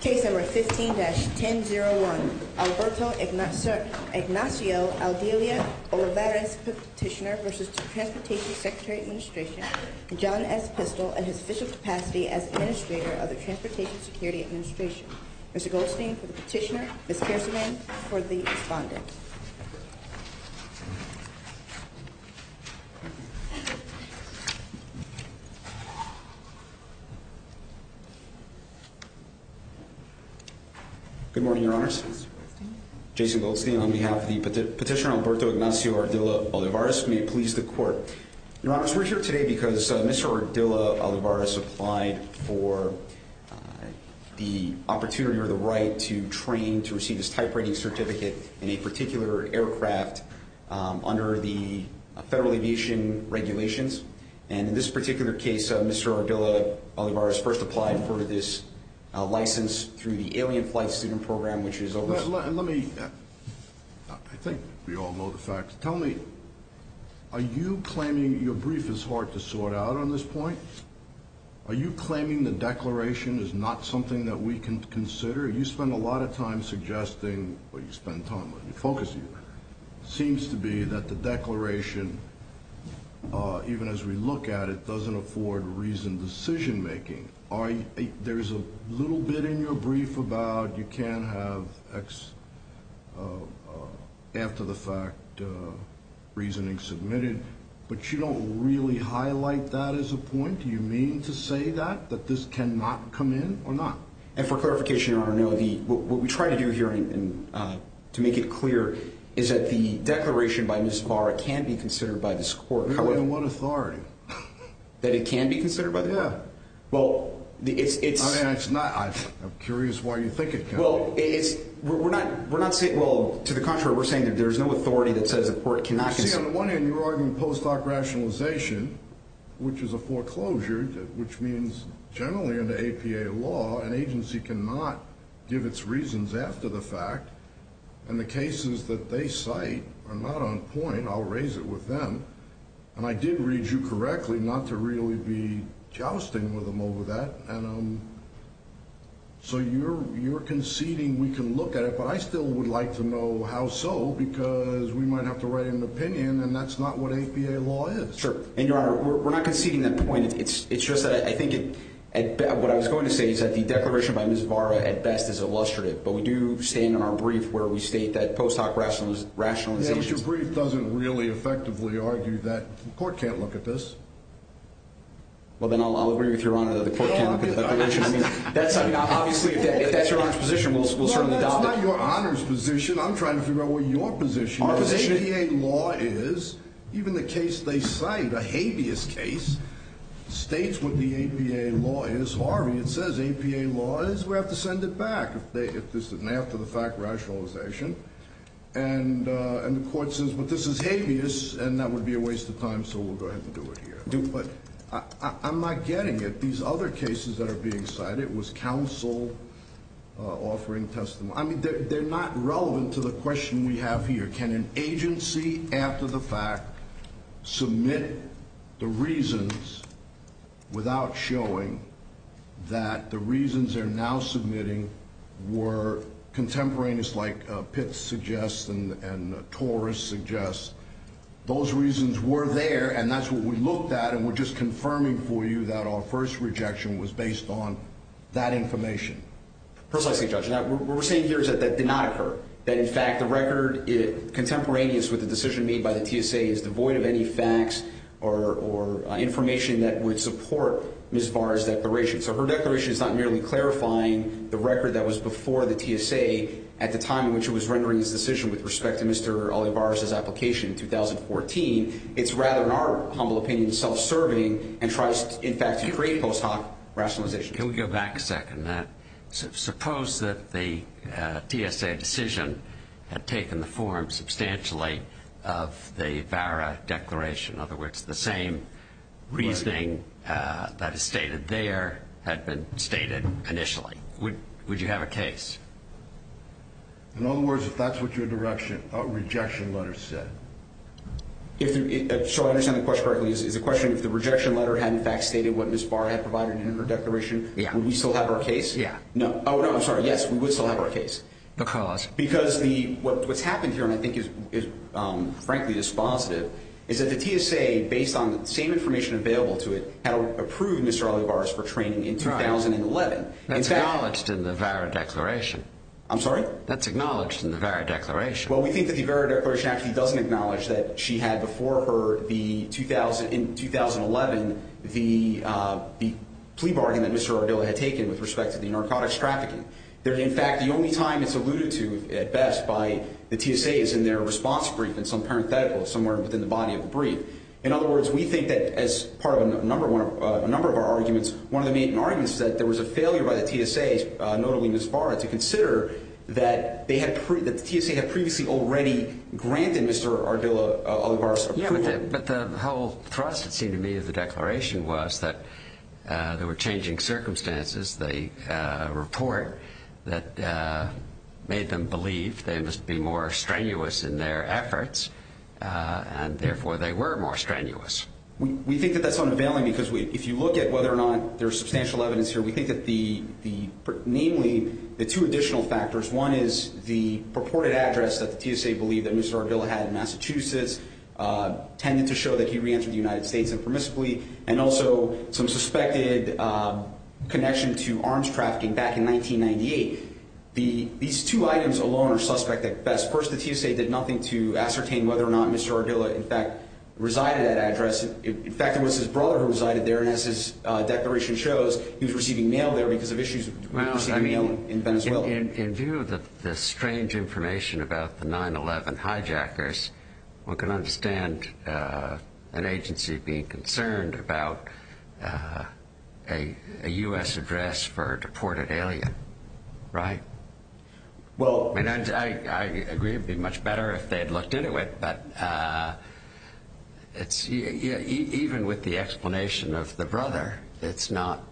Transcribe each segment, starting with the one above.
Case number 15-1001, Alberto Ignacio Ardila Olivares, Petitioner v. Transportation Secretary Administration, and John S. Pistol, at his official capacity as Administrator of the Transportation Security Administration. Mr. Goldstein for the Petitioner, Ms. Kerserman for the Respondent. Good morning, Your Honors. Jason Goldstein on behalf of the Petitioner, Alberto Ignacio Ardila Olivares. May it please the Court. Your Honors, we're here today because Mr. Ardila Olivares applied for the opportunity or the right to train to receive his type rating certificate in a particular aircraft under the Federal Aviation Regulations. And in this particular case, Mr. Ardila Olivares first applied for this license through the Alien Flight Student Program, which is over... Let me... I think we all know the facts. Tell me, are you claiming your brief is hard to sort out on this point? Are you claiming the declaration is not something that we can consider? You spend a lot of time suggesting what you spend time on. Focus here. It seems to be that the declaration, even as we look at it, doesn't afford reasoned decision-making. There's a little bit in your brief about you can't have after-the-fact reasoning submitted, but you don't really highlight that as a point? Do you mean to say that, that this cannot come in or not? And for clarification, Your Honor, what we try to do here, to make it clear, is that the declaration by Ms. Barra can be considered by this Court. There's only one authority. That it can be considered by the Court? Yeah. Well, it's... I'm curious why you think it can't be. Well, we're not saying... Well, to the contrary, we're saying that there's no authority that says the Court cannot... See, on the one hand, you're arguing post-hoc rationalization, which is a foreclosure, which means generally under APA law, an agency cannot give its reasons after the fact. And the cases that they cite are not on point. I'll raise it with them. And I did read you correctly not to really be jousting with them over that. So you're conceding we can look at it, but I still would like to know how so, because we might have to write an opinion, and that's not what APA law is. Sure. And, Your Honor, we're not conceding that point. It's just that I think what I was going to say is that the declaration by Ms. Barra, at best, is illustrative. But we do say in our brief where we state that post-hoc rationalization... Yeah, but your brief doesn't really effectively argue that the Court can't look at this. Well, then I'll agree with Your Honor that the Court can't look at that. Obviously, if that's Your Honor's position, we'll certainly adopt it. No, that's not Your Honor's position. I'm trying to figure out what your position is. Our position is... APA law is, even the case they cite, a habeas case, states what the APA law is. Harvey, it says APA law is. We have to send it back if this is an after-the-fact rationalization. And the Court says, but this is habeas, and that would be a waste of time, so we'll go ahead and do it here. But I'm not getting it. These other cases that are being cited, it was counsel offering testimony. I mean, they're not relevant to the question we have here. Can an agency, after the fact, submit the reasons without showing that the reasons they're now submitting were contemporaneous, like Pitts suggests and Torres suggests? Those reasons were there, and that's what we looked at, and we're just confirming for you that our first rejection was based on that information. Precisely, Judge. What we're saying here is that that did not occur. That, in fact, the record contemporaneous with the decision made by the TSA is devoid of any facts or information that would support Ms. Barr's declaration. So her declaration is not merely clarifying the record that was before the TSA at the time in which it was rendering its decision with respect to Mr. Olivares' application in 2014. It's rather, in our humble opinion, self-serving and tries, in fact, to create post hoc rationalization. Can we go back a second in that? Suppose that the TSA decision had taken the form substantially of the VARA declaration. In other words, the same reasoning that is stated there had been stated initially. Would you have a case? In other words, if that's what your rejection letter said. So I understand the question correctly. Is the question if the rejection letter had, in fact, stated what Ms. Barr had provided in her declaration, would we still have our case? Yeah. Oh, no, I'm sorry. Yes, we would still have our case. Because? Because what's happened here, and I think is frankly dispositive, is that the TSA, based on the same information available to it, had approved Mr. Olivares for training in 2011. That's acknowledged in the VARA declaration. I'm sorry? That's acknowledged in the VARA declaration. Well, we think that the VARA declaration actually doesn't acknowledge that she had before her, in 2011, the plea bargain that Mr. Ardilla had taken with respect to the narcotics trafficking. That, in fact, the only time it's alluded to, at best, by the TSA is in their response brief, in some parenthetical, somewhere within the body of the brief. In other words, we think that, as part of a number of our arguments, one of the main arguments is that there was a failure by the TSA, notably Ms. Barr, to consider that the TSA had previously already granted Mr. Ardilla Olivares approval. But the whole thrust, it seemed to me, of the declaration was that there were changing circumstances. The report that made them believe they must be more strenuous in their efforts, and therefore they were more strenuous. We think that that's unavailing because if you look at whether or not there's substantial evidence here, we think that the, namely, the two additional factors, one is the purported address that the TSA believed that Mr. Ardilla had in Massachusetts, tended to show that he reentered the United States impermissibly, and also some suspected connection to arms trafficking back in 1998. These two items alone are suspect at best. First, the TSA did nothing to ascertain whether or not Mr. Ardilla, in fact, resided at address. In fact, it was his brother who resided there, and as his declaration shows, he was receiving mail there because of issues with receiving mail in Venezuela. In view of the strange information about the 9-11 hijackers, one can understand an agency being concerned about a U.S. address for a deported alien, right? I mean, I agree it would be much better if they had looked into it, but even with the explanation of the brother, it's not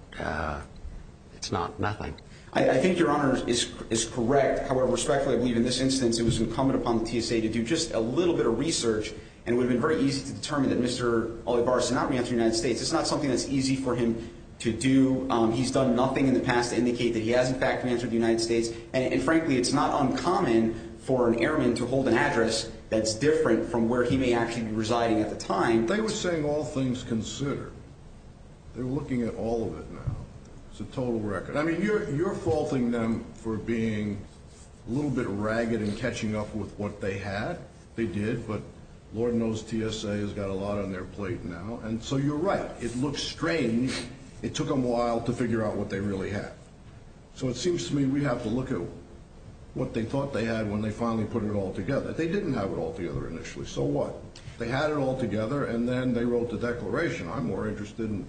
nothing. I think Your Honor is correct. However, respectfully, I believe in this instance, it was incumbent upon the TSA to do just a little bit of research, and it would have been very easy to determine that Mr. Olivares did not reenter the United States. It's not something that's easy for him to do. He's done nothing in the past to indicate that he has, in fact, reentered the United States, and frankly, it's not uncommon for an airman to hold an address that's different from where he may actually be residing at the time. They were saying all things considered. They're looking at all of it now. It's a total record. I mean, you're faulting them for being a little bit ragged in catching up with what they had. They did, but Lord knows TSA has got a lot on their plate now. And so you're right. It looks strange. It took them a while to figure out what they really had. So it seems to me we have to look at what they thought they had when they finally put it all together. They didn't have it all together initially. So what? They had it all together, and then they wrote the declaration. I'm more interested in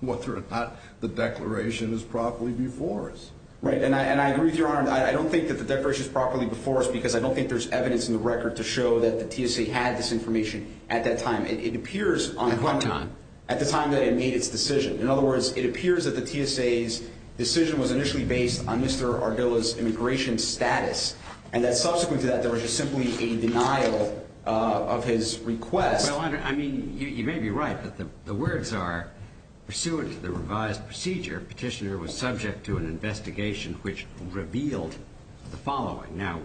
whether or not the declaration is properly before us. Right. And I agree with Your Honor. I don't think that the declaration is properly before us because I don't think there's evidence in the record to show that the TSA had this information at that time. It appears at the time that it made its decision. In other words, it appears that the TSA's decision was initially based on Mr. Ardilla's immigration status, and that subsequent to that there was just simply a denial of his request. Well, Your Honor, I mean, you may be right, but the words are, pursuant to the revised procedure, Petitioner was subject to an investigation which revealed the following. Now,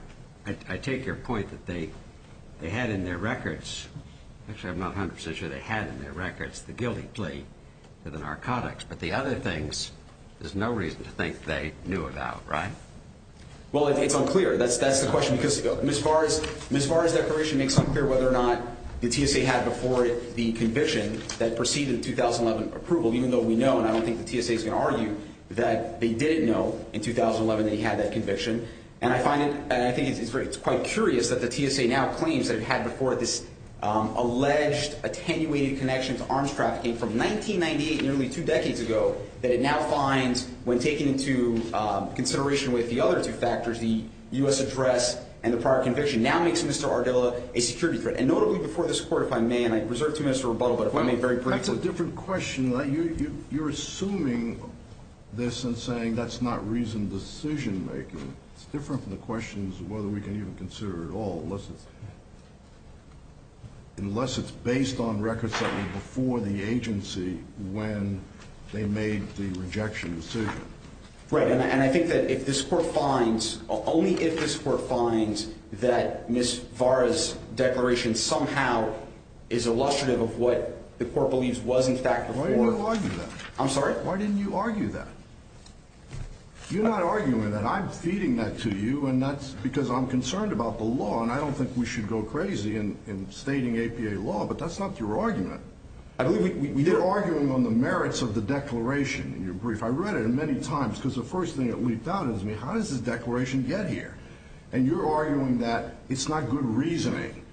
I take your point that they had in their records. Actually, I'm not 100% sure they had in their records the guilty plea to the narcotics. But the other things there's no reason to think they knew about, right? Well, it's unclear. That's the question because Ms. Vara's declaration makes unclear whether or not the TSA had before it the conviction that preceded the 2011 approval, even though we know, and I don't think the TSA is going to argue, that they didn't know in 2011 that he had that conviction. And I find it, and I think it's quite curious that the TSA now claims that it had before it this alleged attenuated connection to arms trafficking from 1998, nearly two decades ago, that it now finds when taken into consideration with the other two factors, the U.S. address and the prior conviction, now makes Mr. Ardila a security threat, and notably before this Court, if I may, and I reserve two minutes to rebuttal, but if I may very briefly. That's a different question. You're assuming this and saying that's not reasoned decision-making. It's different from the questions whether we can even consider at all, unless it's based on records that were before the agency when they made the rejection decision. Right, and I think that if this Court finds, only if this Court finds that Ms. Vara's declaration somehow is illustrative of what the Court believes was in fact before. Why didn't you argue that? I'm sorry? Why didn't you argue that? You're not arguing that. I'm feeding that to you, and that's because I'm concerned about the law, and I don't think we should go crazy in stating APA law, but that's not your argument. I believe we did. You're arguing on the merits of the declaration in your brief. I read it many times, because the first thing that leaped out at me, how does this declaration get here? And you're arguing that it's not good reasoning,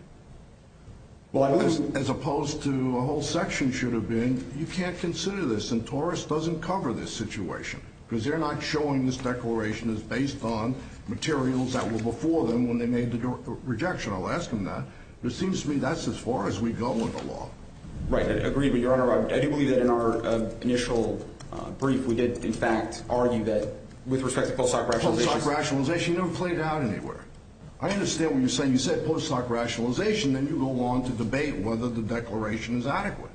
as opposed to a whole section should have been, and you can't consider this, and TORUS doesn't cover this situation, because they're not showing this declaration is based on materials that were before them when they made the rejection. I'll ask them that. It seems to me that's as far as we go with the law. Right. I agree with you, Your Honor. I do believe that in our initial brief, we did, in fact, argue that with respect to post-hoc rationalization. Post-hoc rationalization never played out anywhere. I understand what you're saying. You said post-hoc rationalization, then you go on to debate whether the declaration is adequate.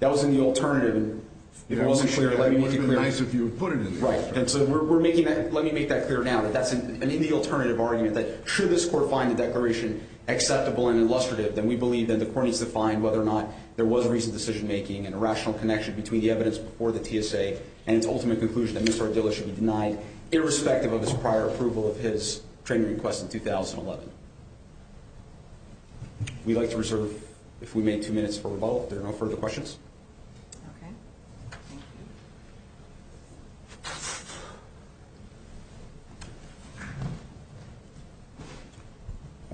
That was in the alternative, and if it wasn't clear, let me make it clear. It wouldn't have been nice if you had put it in the alternative. Right. And so we're making that, let me make that clear now, that that's in the alternative argument, that should this court find the declaration acceptable and illustrative, then we believe that the court needs to find whether or not there was reasoned decision making and a rational connection between the evidence before the TSA and its ultimate conclusion that Mr. Ardila should be denied, irrespective of his prior approval of his training request in 2011. We'd like to reserve, if we may, two minutes for rebuttal. If there are no further questions. Okay. Thank you.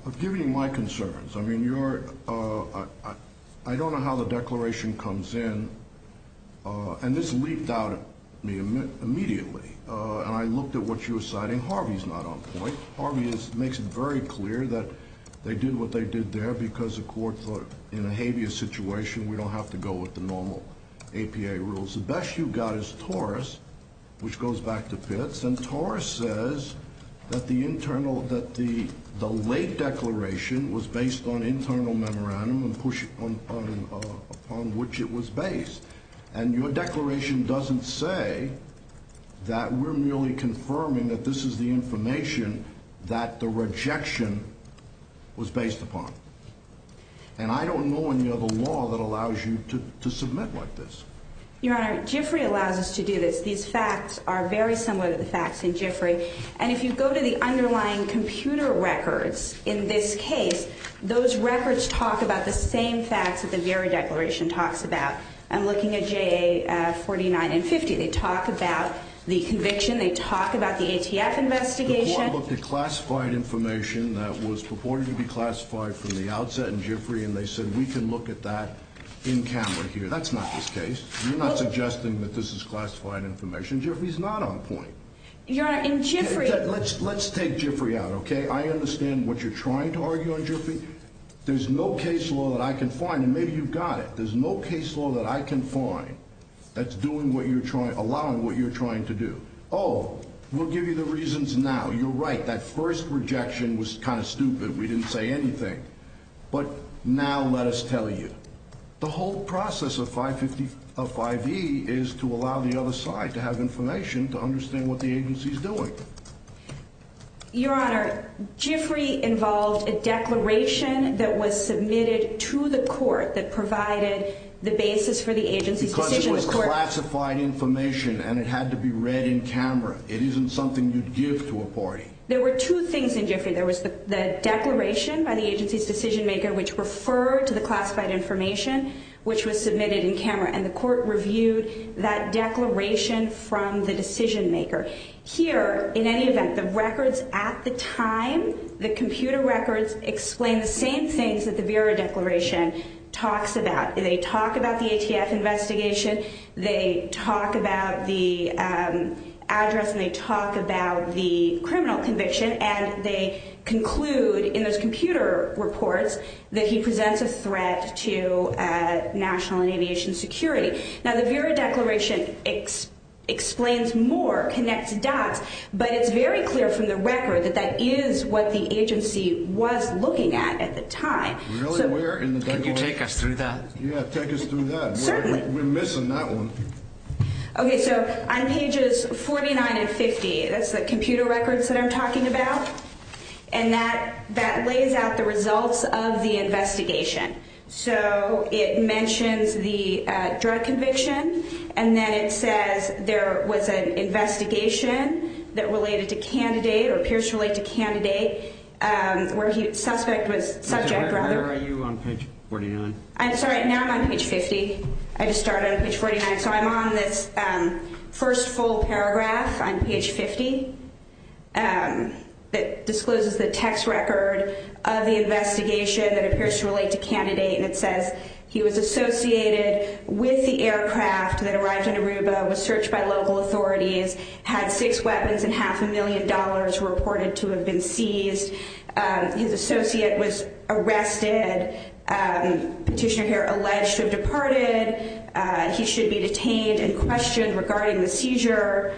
I've given you my concerns. I mean, you're, I don't know how the declaration comes in, and this leaped out at me immediately, and I looked at what you were citing. Harvey's not on point. Harvey makes it very clear that they did what they did there because the court thought, in a habeas situation, we don't have to go with the normal APA rules. The best you've got is Torres, which goes back to Pitts, and Torres says that the late declaration was based on internal memorandum upon which it was based, and your declaration doesn't say that we're merely confirming that this is the information that the rejection was based upon, and I don't know any other law that allows you to submit like this. Your Honor, Giffrey allows us to do this. These facts are very similar to the facts in Giffrey, and if you go to the underlying computer records in this case, those records talk about the same facts that the very declaration talks about. I'm looking at JA 49 and 50. They talk about the conviction. They talk about the ATF investigation. The court looked at classified information that was purported to be classified from the outset in Giffrey, and they said we can look at that in camera here. That's not this case. You're not suggesting that this is classified information. Giffrey's not on point. Your Honor, in Giffrey. Let's take Giffrey out, okay? I understand what you're trying to argue on Giffrey. There's no case law that I can find, and maybe you've got it. There's no case law that I can find that's allowing what you're trying to do. Oh, we'll give you the reasons now. You're right. That first rejection was kind of stupid. We didn't say anything. But now let us tell you. The whole process of 5E is to allow the other side to have information to understand what the agency's doing. Your Honor, Giffrey involved a declaration that was submitted to the court that provided the basis for the agency's decision. Because it was classified information and it had to be read in camera. It isn't something you'd give to a party. There were two things in Giffrey. There was the declaration by the agency's decision maker which referred to the classified information which was submitted in camera, and the court reviewed that declaration from the decision maker. Here, in any event, the records at the time, the computer records, explain the same things that the Vera declaration talks about. They talk about the ATF investigation. They talk about the address, and they talk about the criminal conviction, and they conclude in those computer reports that he presents a threat to national and aviation security. Now, the Vera declaration explains more, connects dots, but it's very clear from the record that that is what the agency was looking at at the time. Really? Where in the declaration? Can you take us through that? Yeah, take us through that. Certainly. We're missing that one. Okay, so on pages 49 and 50, that's the computer records that I'm talking about, and that lays out the results of the investigation. So it mentions the drug conviction, and then it says there was an investigation that related to candidate or appears to relate to candidate where the suspect was subject rather. Where are you on page 49? I'm sorry. Now I'm on page 50. I just started on page 49. So I'm on this first full paragraph on page 50. It discloses the text record of the investigation that appears to relate to candidate, and it says he was associated with the aircraft that arrived in Aruba, was searched by local authorities, had six weapons, and half a million dollars were reported to have been seized. His associate was arrested. Petitioner here alleged to have departed. He should be detained and questioned regarding the seizure.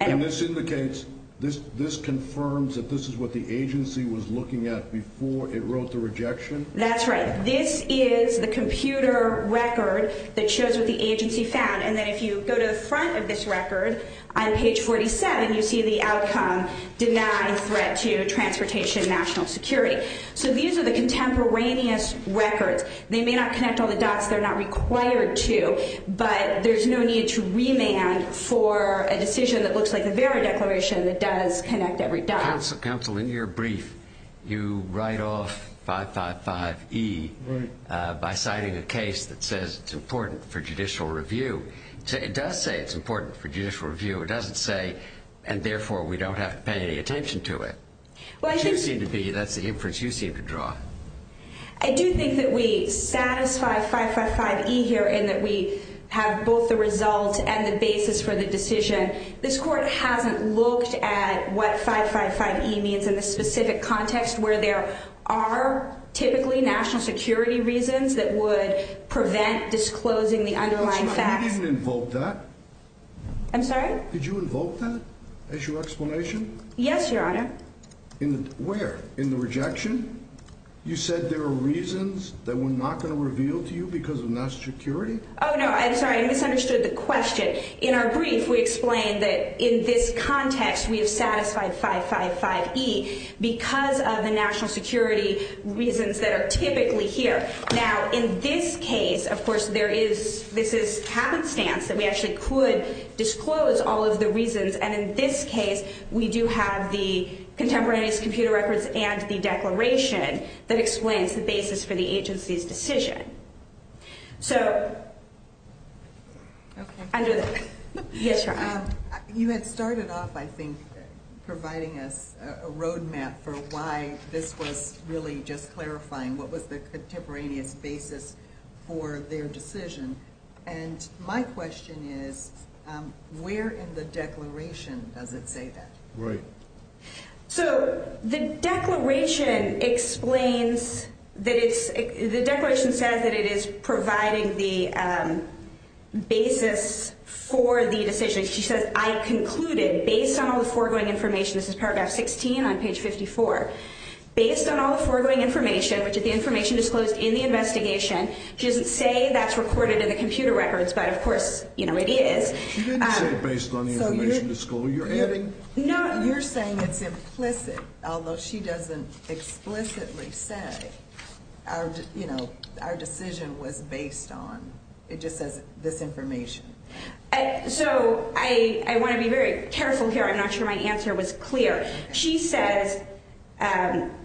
And this indicates, this confirms that this is what the agency was looking at before it wrote the rejection? That's right. This is the computer record that shows what the agency found, and then if you go to the front of this record on page 47, you see the outcome, deny threat to transportation national security. So these are the contemporaneous records. They may not connect all the dots. They're not required to, but there's no need to remand for a decision that looks like the Vera Declaration that does connect every dot. Counsel, in your brief, you write off 555E by citing a case that says it's important for judicial review. It does say it's important for judicial review. It doesn't say, and therefore we don't have to pay any attention to it. But you seem to be, that's the inference you seem to draw. I do think that we satisfy 555E here and that we have both the result and the basis for the decision. This court hasn't looked at what 555E means in the specific context where there are typically national security reasons that would prevent disclosing the underlying facts. You didn't invoke that. I'm sorry? Did you invoke that as your explanation? Yes, Your Honor. Where? In the rejection? You said there are reasons that we're not going to reveal to you because of national security? Oh, no, I'm sorry. I misunderstood the question. In our brief, we explain that in this context, we have satisfied 555E because of the national security reasons that are typically here. Now, in this case, of course, there is, this is happenstance that we actually could disclose all of the reasons. And in this case, we do have the contemporaneous computer records and the declaration that explains the basis for the agency's decision. So, under the, yes, Your Honor? You had started off, I think, providing us a roadmap for why this was really just clarifying what was the contemporaneous basis for their decision. And my question is, where in the declaration does it say that? Right. So, the declaration explains that it's, the declaration says that it is providing the basis for the decision. She says, I concluded, based on all the foregoing information, this is paragraph 16 on page 54, based on all the foregoing information, which is the information disclosed in the investigation, she doesn't say that's recorded in the computer records, but, of course, you know, it is. She didn't say based on the information disclosed. You're adding? No, you're saying it's implicit, although she doesn't explicitly say, you know, our decision was based on, it just says this information. So, I want to be very careful here. I'm not sure my answer was clear. She says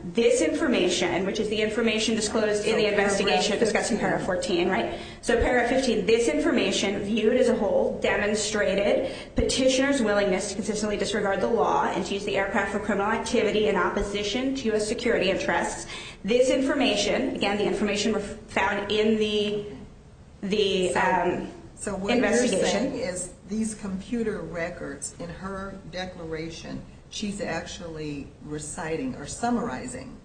this information, which is the information disclosed in the investigation discussing paragraph 14, right? So, paragraph 15, this information viewed as a whole demonstrated petitioner's willingness to consistently disregard the law and to use the aircraft for criminal activity in opposition to U.S. security interests. This information, again, the information found in the investigation. What you're saying is these computer records in her declaration, she's actually reciting or summarizing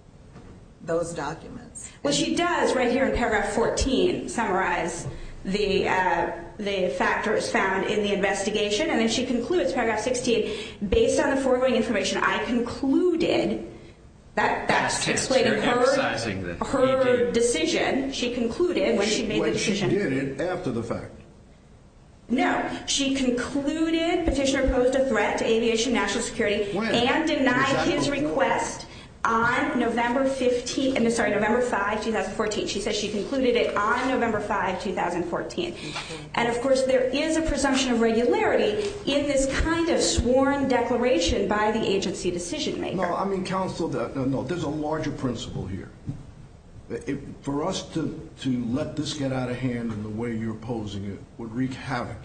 those documents. Well, she does, right here in paragraph 14, summarize the factors found in the investigation, and then she concludes, paragraph 16, based on the foregoing information, I concluded, that's explaining her decision. She concluded when she made the decision. When she did it, after the fact. No, she concluded petitioner posed a threat to aviation national security and denied his request on November 15, I'm sorry, November 5, 2014. She said she concluded it on November 5, 2014. And, of course, there is a presumption of regularity in this kind of sworn declaration by the agency decision maker. No, I mean counsel, there's a larger principle here. For us to let this get out of hand in the way you're opposing it would wreak havoc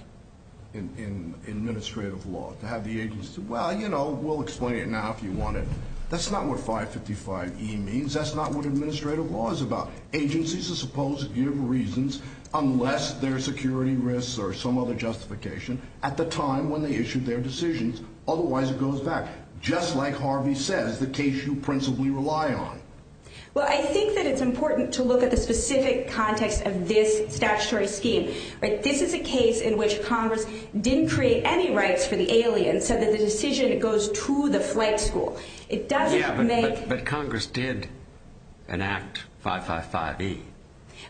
in administrative law. To have the agency say, well, you know, we'll explain it now if you want it. That's not what 555E means. That's not what administrative law is about. Agencies are supposed to give reasons, unless there are security risks or some other justification, at the time when they issued their decisions, otherwise it goes back. Just like Harvey says, the case you principally rely on. Well, I think that it's important to look at the specific context of this statutory scheme. This is a case in which Congress didn't create any rights for the alien, so that the decision goes to the flight school. Yeah, but Congress did enact 555E.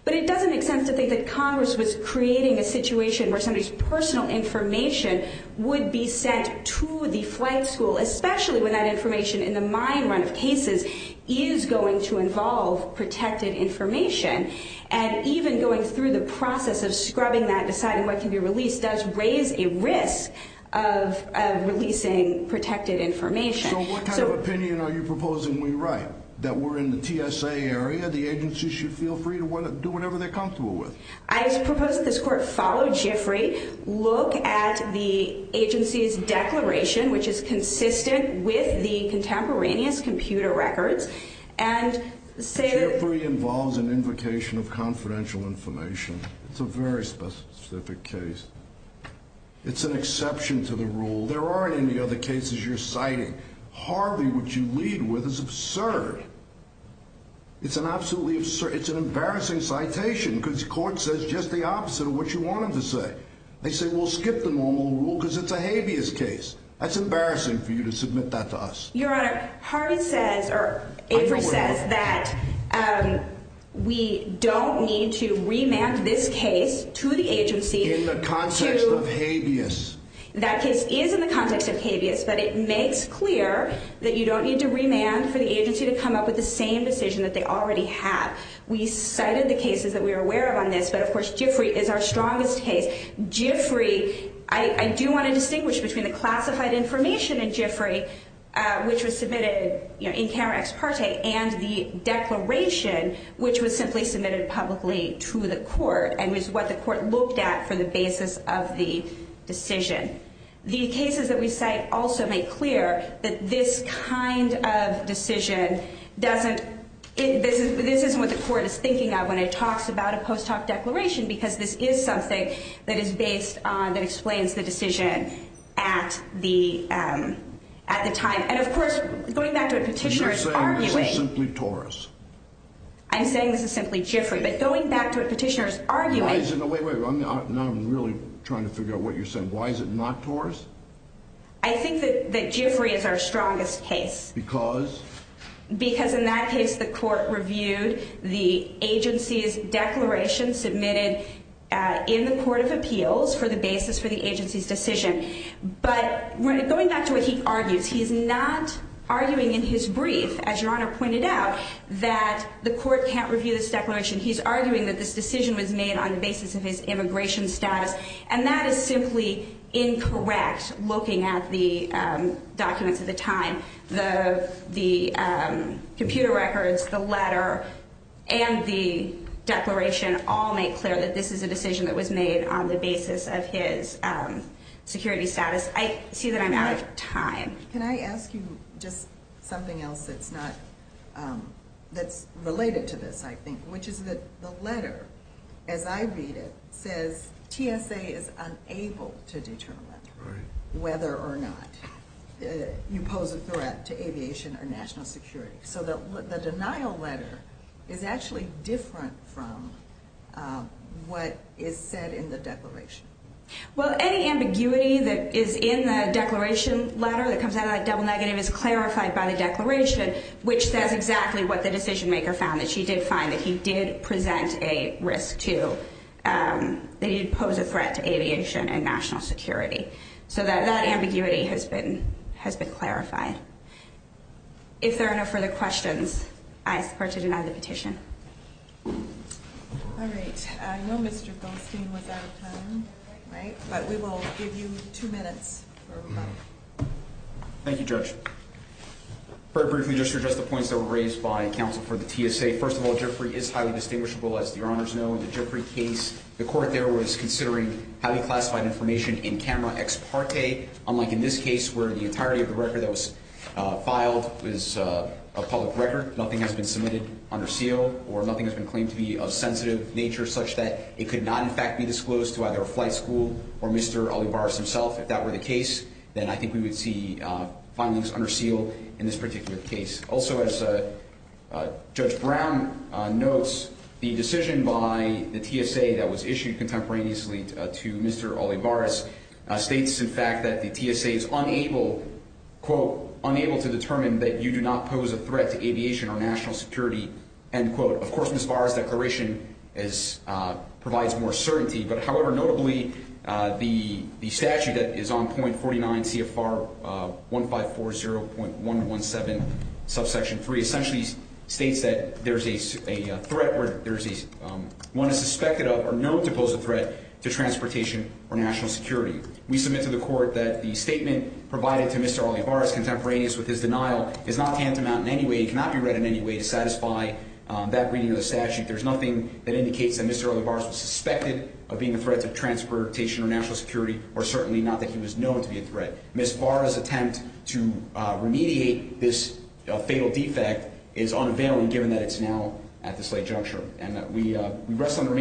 But it doesn't make sense to think that Congress was creating a situation where somebody's personal information would be sent to the flight school, especially when that information in the mine run of cases is going to involve protected information. And even going through the process of scrubbing that, deciding what can be released, does raise a risk of releasing protected information. So what kind of opinion are you proposing we write? That we're in the TSA area, the agency should feel free to do whatever they're comfortable with? I propose that this Court follow Giffrey, look at the agency's declaration, which is consistent with the contemporaneous computer records, and say that... Giffrey involves an invocation of confidential information. It's a very specific case. It's an exception to the rule. There aren't any other cases you're citing. Harvey, which you lead with, is absurd. It's an absolutely absurd, it's an embarrassing citation, because the Court says just the opposite of what you want them to say. They say we'll skip the normal rule because it's a habeas case. That's embarrassing for you to submit that to us. Your Honor, Harvey says, or Giffrey says, that we don't need to remand this case to the agency... In the context of habeas. That case is in the context of habeas, but it makes clear that you don't need to remand for the agency to come up with the same decision that they already have. We cited the cases that we are aware of on this, but of course Giffrey is our strongest case. Giffrey, I do want to distinguish between the classified information in Giffrey, which was submitted in camera ex parte, and the declaration, which was simply submitted publicly to the Court. And was what the Court looked at for the basis of the decision. The cases that we cite also make clear that this kind of decision doesn't... This isn't what the Court is thinking of when it talks about a post hoc declaration, because this is something that is based on, that explains the decision at the time. And of course, going back to what Petitioner is arguing... You're saying this is simply Torres. I'm saying this is simply Giffrey, but going back to what Petitioner is arguing... Now I'm really trying to figure out what you're saying. Why is it not Torres? I think that Giffrey is our strongest case. Because? Because in that case the Court reviewed the agency's declaration submitted in the Court of Appeals for the basis for the agency's decision. But going back to what he argues, he's not arguing in his brief, as Your Honor pointed out, that the Court can't review this declaration. He's arguing that this decision was made on the basis of his immigration status. And that is simply incorrect, looking at the documents at the time. The computer records, the letter, and the declaration all make clear that this is a decision that was made on the basis of his security status. I see that I'm out of time. Can I ask you just something else that's related to this, I think, which is that the letter, as I read it, says TSA is unable to determine whether or not... ...a threat to aviation or national security. So the denial letter is actually different from what is said in the declaration. Well, any ambiguity that is in the declaration letter that comes out of that double negative is clarified by the declaration, which says exactly what the decision-maker found, that she did find that he did present a risk to... So that ambiguity has been clarified. If there are no further questions, I support to deny the petition. All right. I know Mr. Goldstein was out of time, but we will give you two minutes for rebuttal. Thank you, Judge. Very briefly, just to address the points that were raised by counsel for the TSA, first of all, the Jeffrey case, the court there was considering highly classified information in camera ex parte, unlike in this case where the entirety of the record that was filed was a public record. Nothing has been submitted under seal or nothing has been claimed to be of sensitive nature such that it could not, in fact, be disclosed to either a flight school or Mr. Olivares himself. If that were the case, then I think we would see findings under seal in this particular case. Also, as Judge Brown notes, the decision by the TSA that was issued contemporaneously to Mr. Olivares states, in fact, that the TSA is unable, quote, unable to determine that you do not pose a threat to aviation or national security, end quote. Of course, Mr. Olivares' declaration provides more certainty. However, notably, the statute that is on .49 CFR 1540.117, subsection 3, essentially states that there is a threat where one is suspected of or known to pose a threat to transportation or national security. We submit to the court that the statement provided to Mr. Olivares contemporaneous with his denial is not to hand him out in any way. It cannot be read in any way to satisfy that reading of the statute. There's nothing that indicates that Mr. Olivares was suspected of being a threat to transportation or national security, or certainly not that he was known to be a threat. Ms. Barra's attempt to remediate this fatal defect is unavailing given that it's now at this late juncture. And we rest on our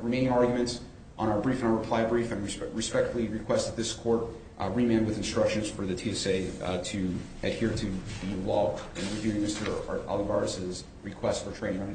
remaining arguments on our brief and our reply brief. I respectfully request that this court remand with instructions for the TSA to adhere to the law in reviewing Mr. Olivares' request for training under the EFSB.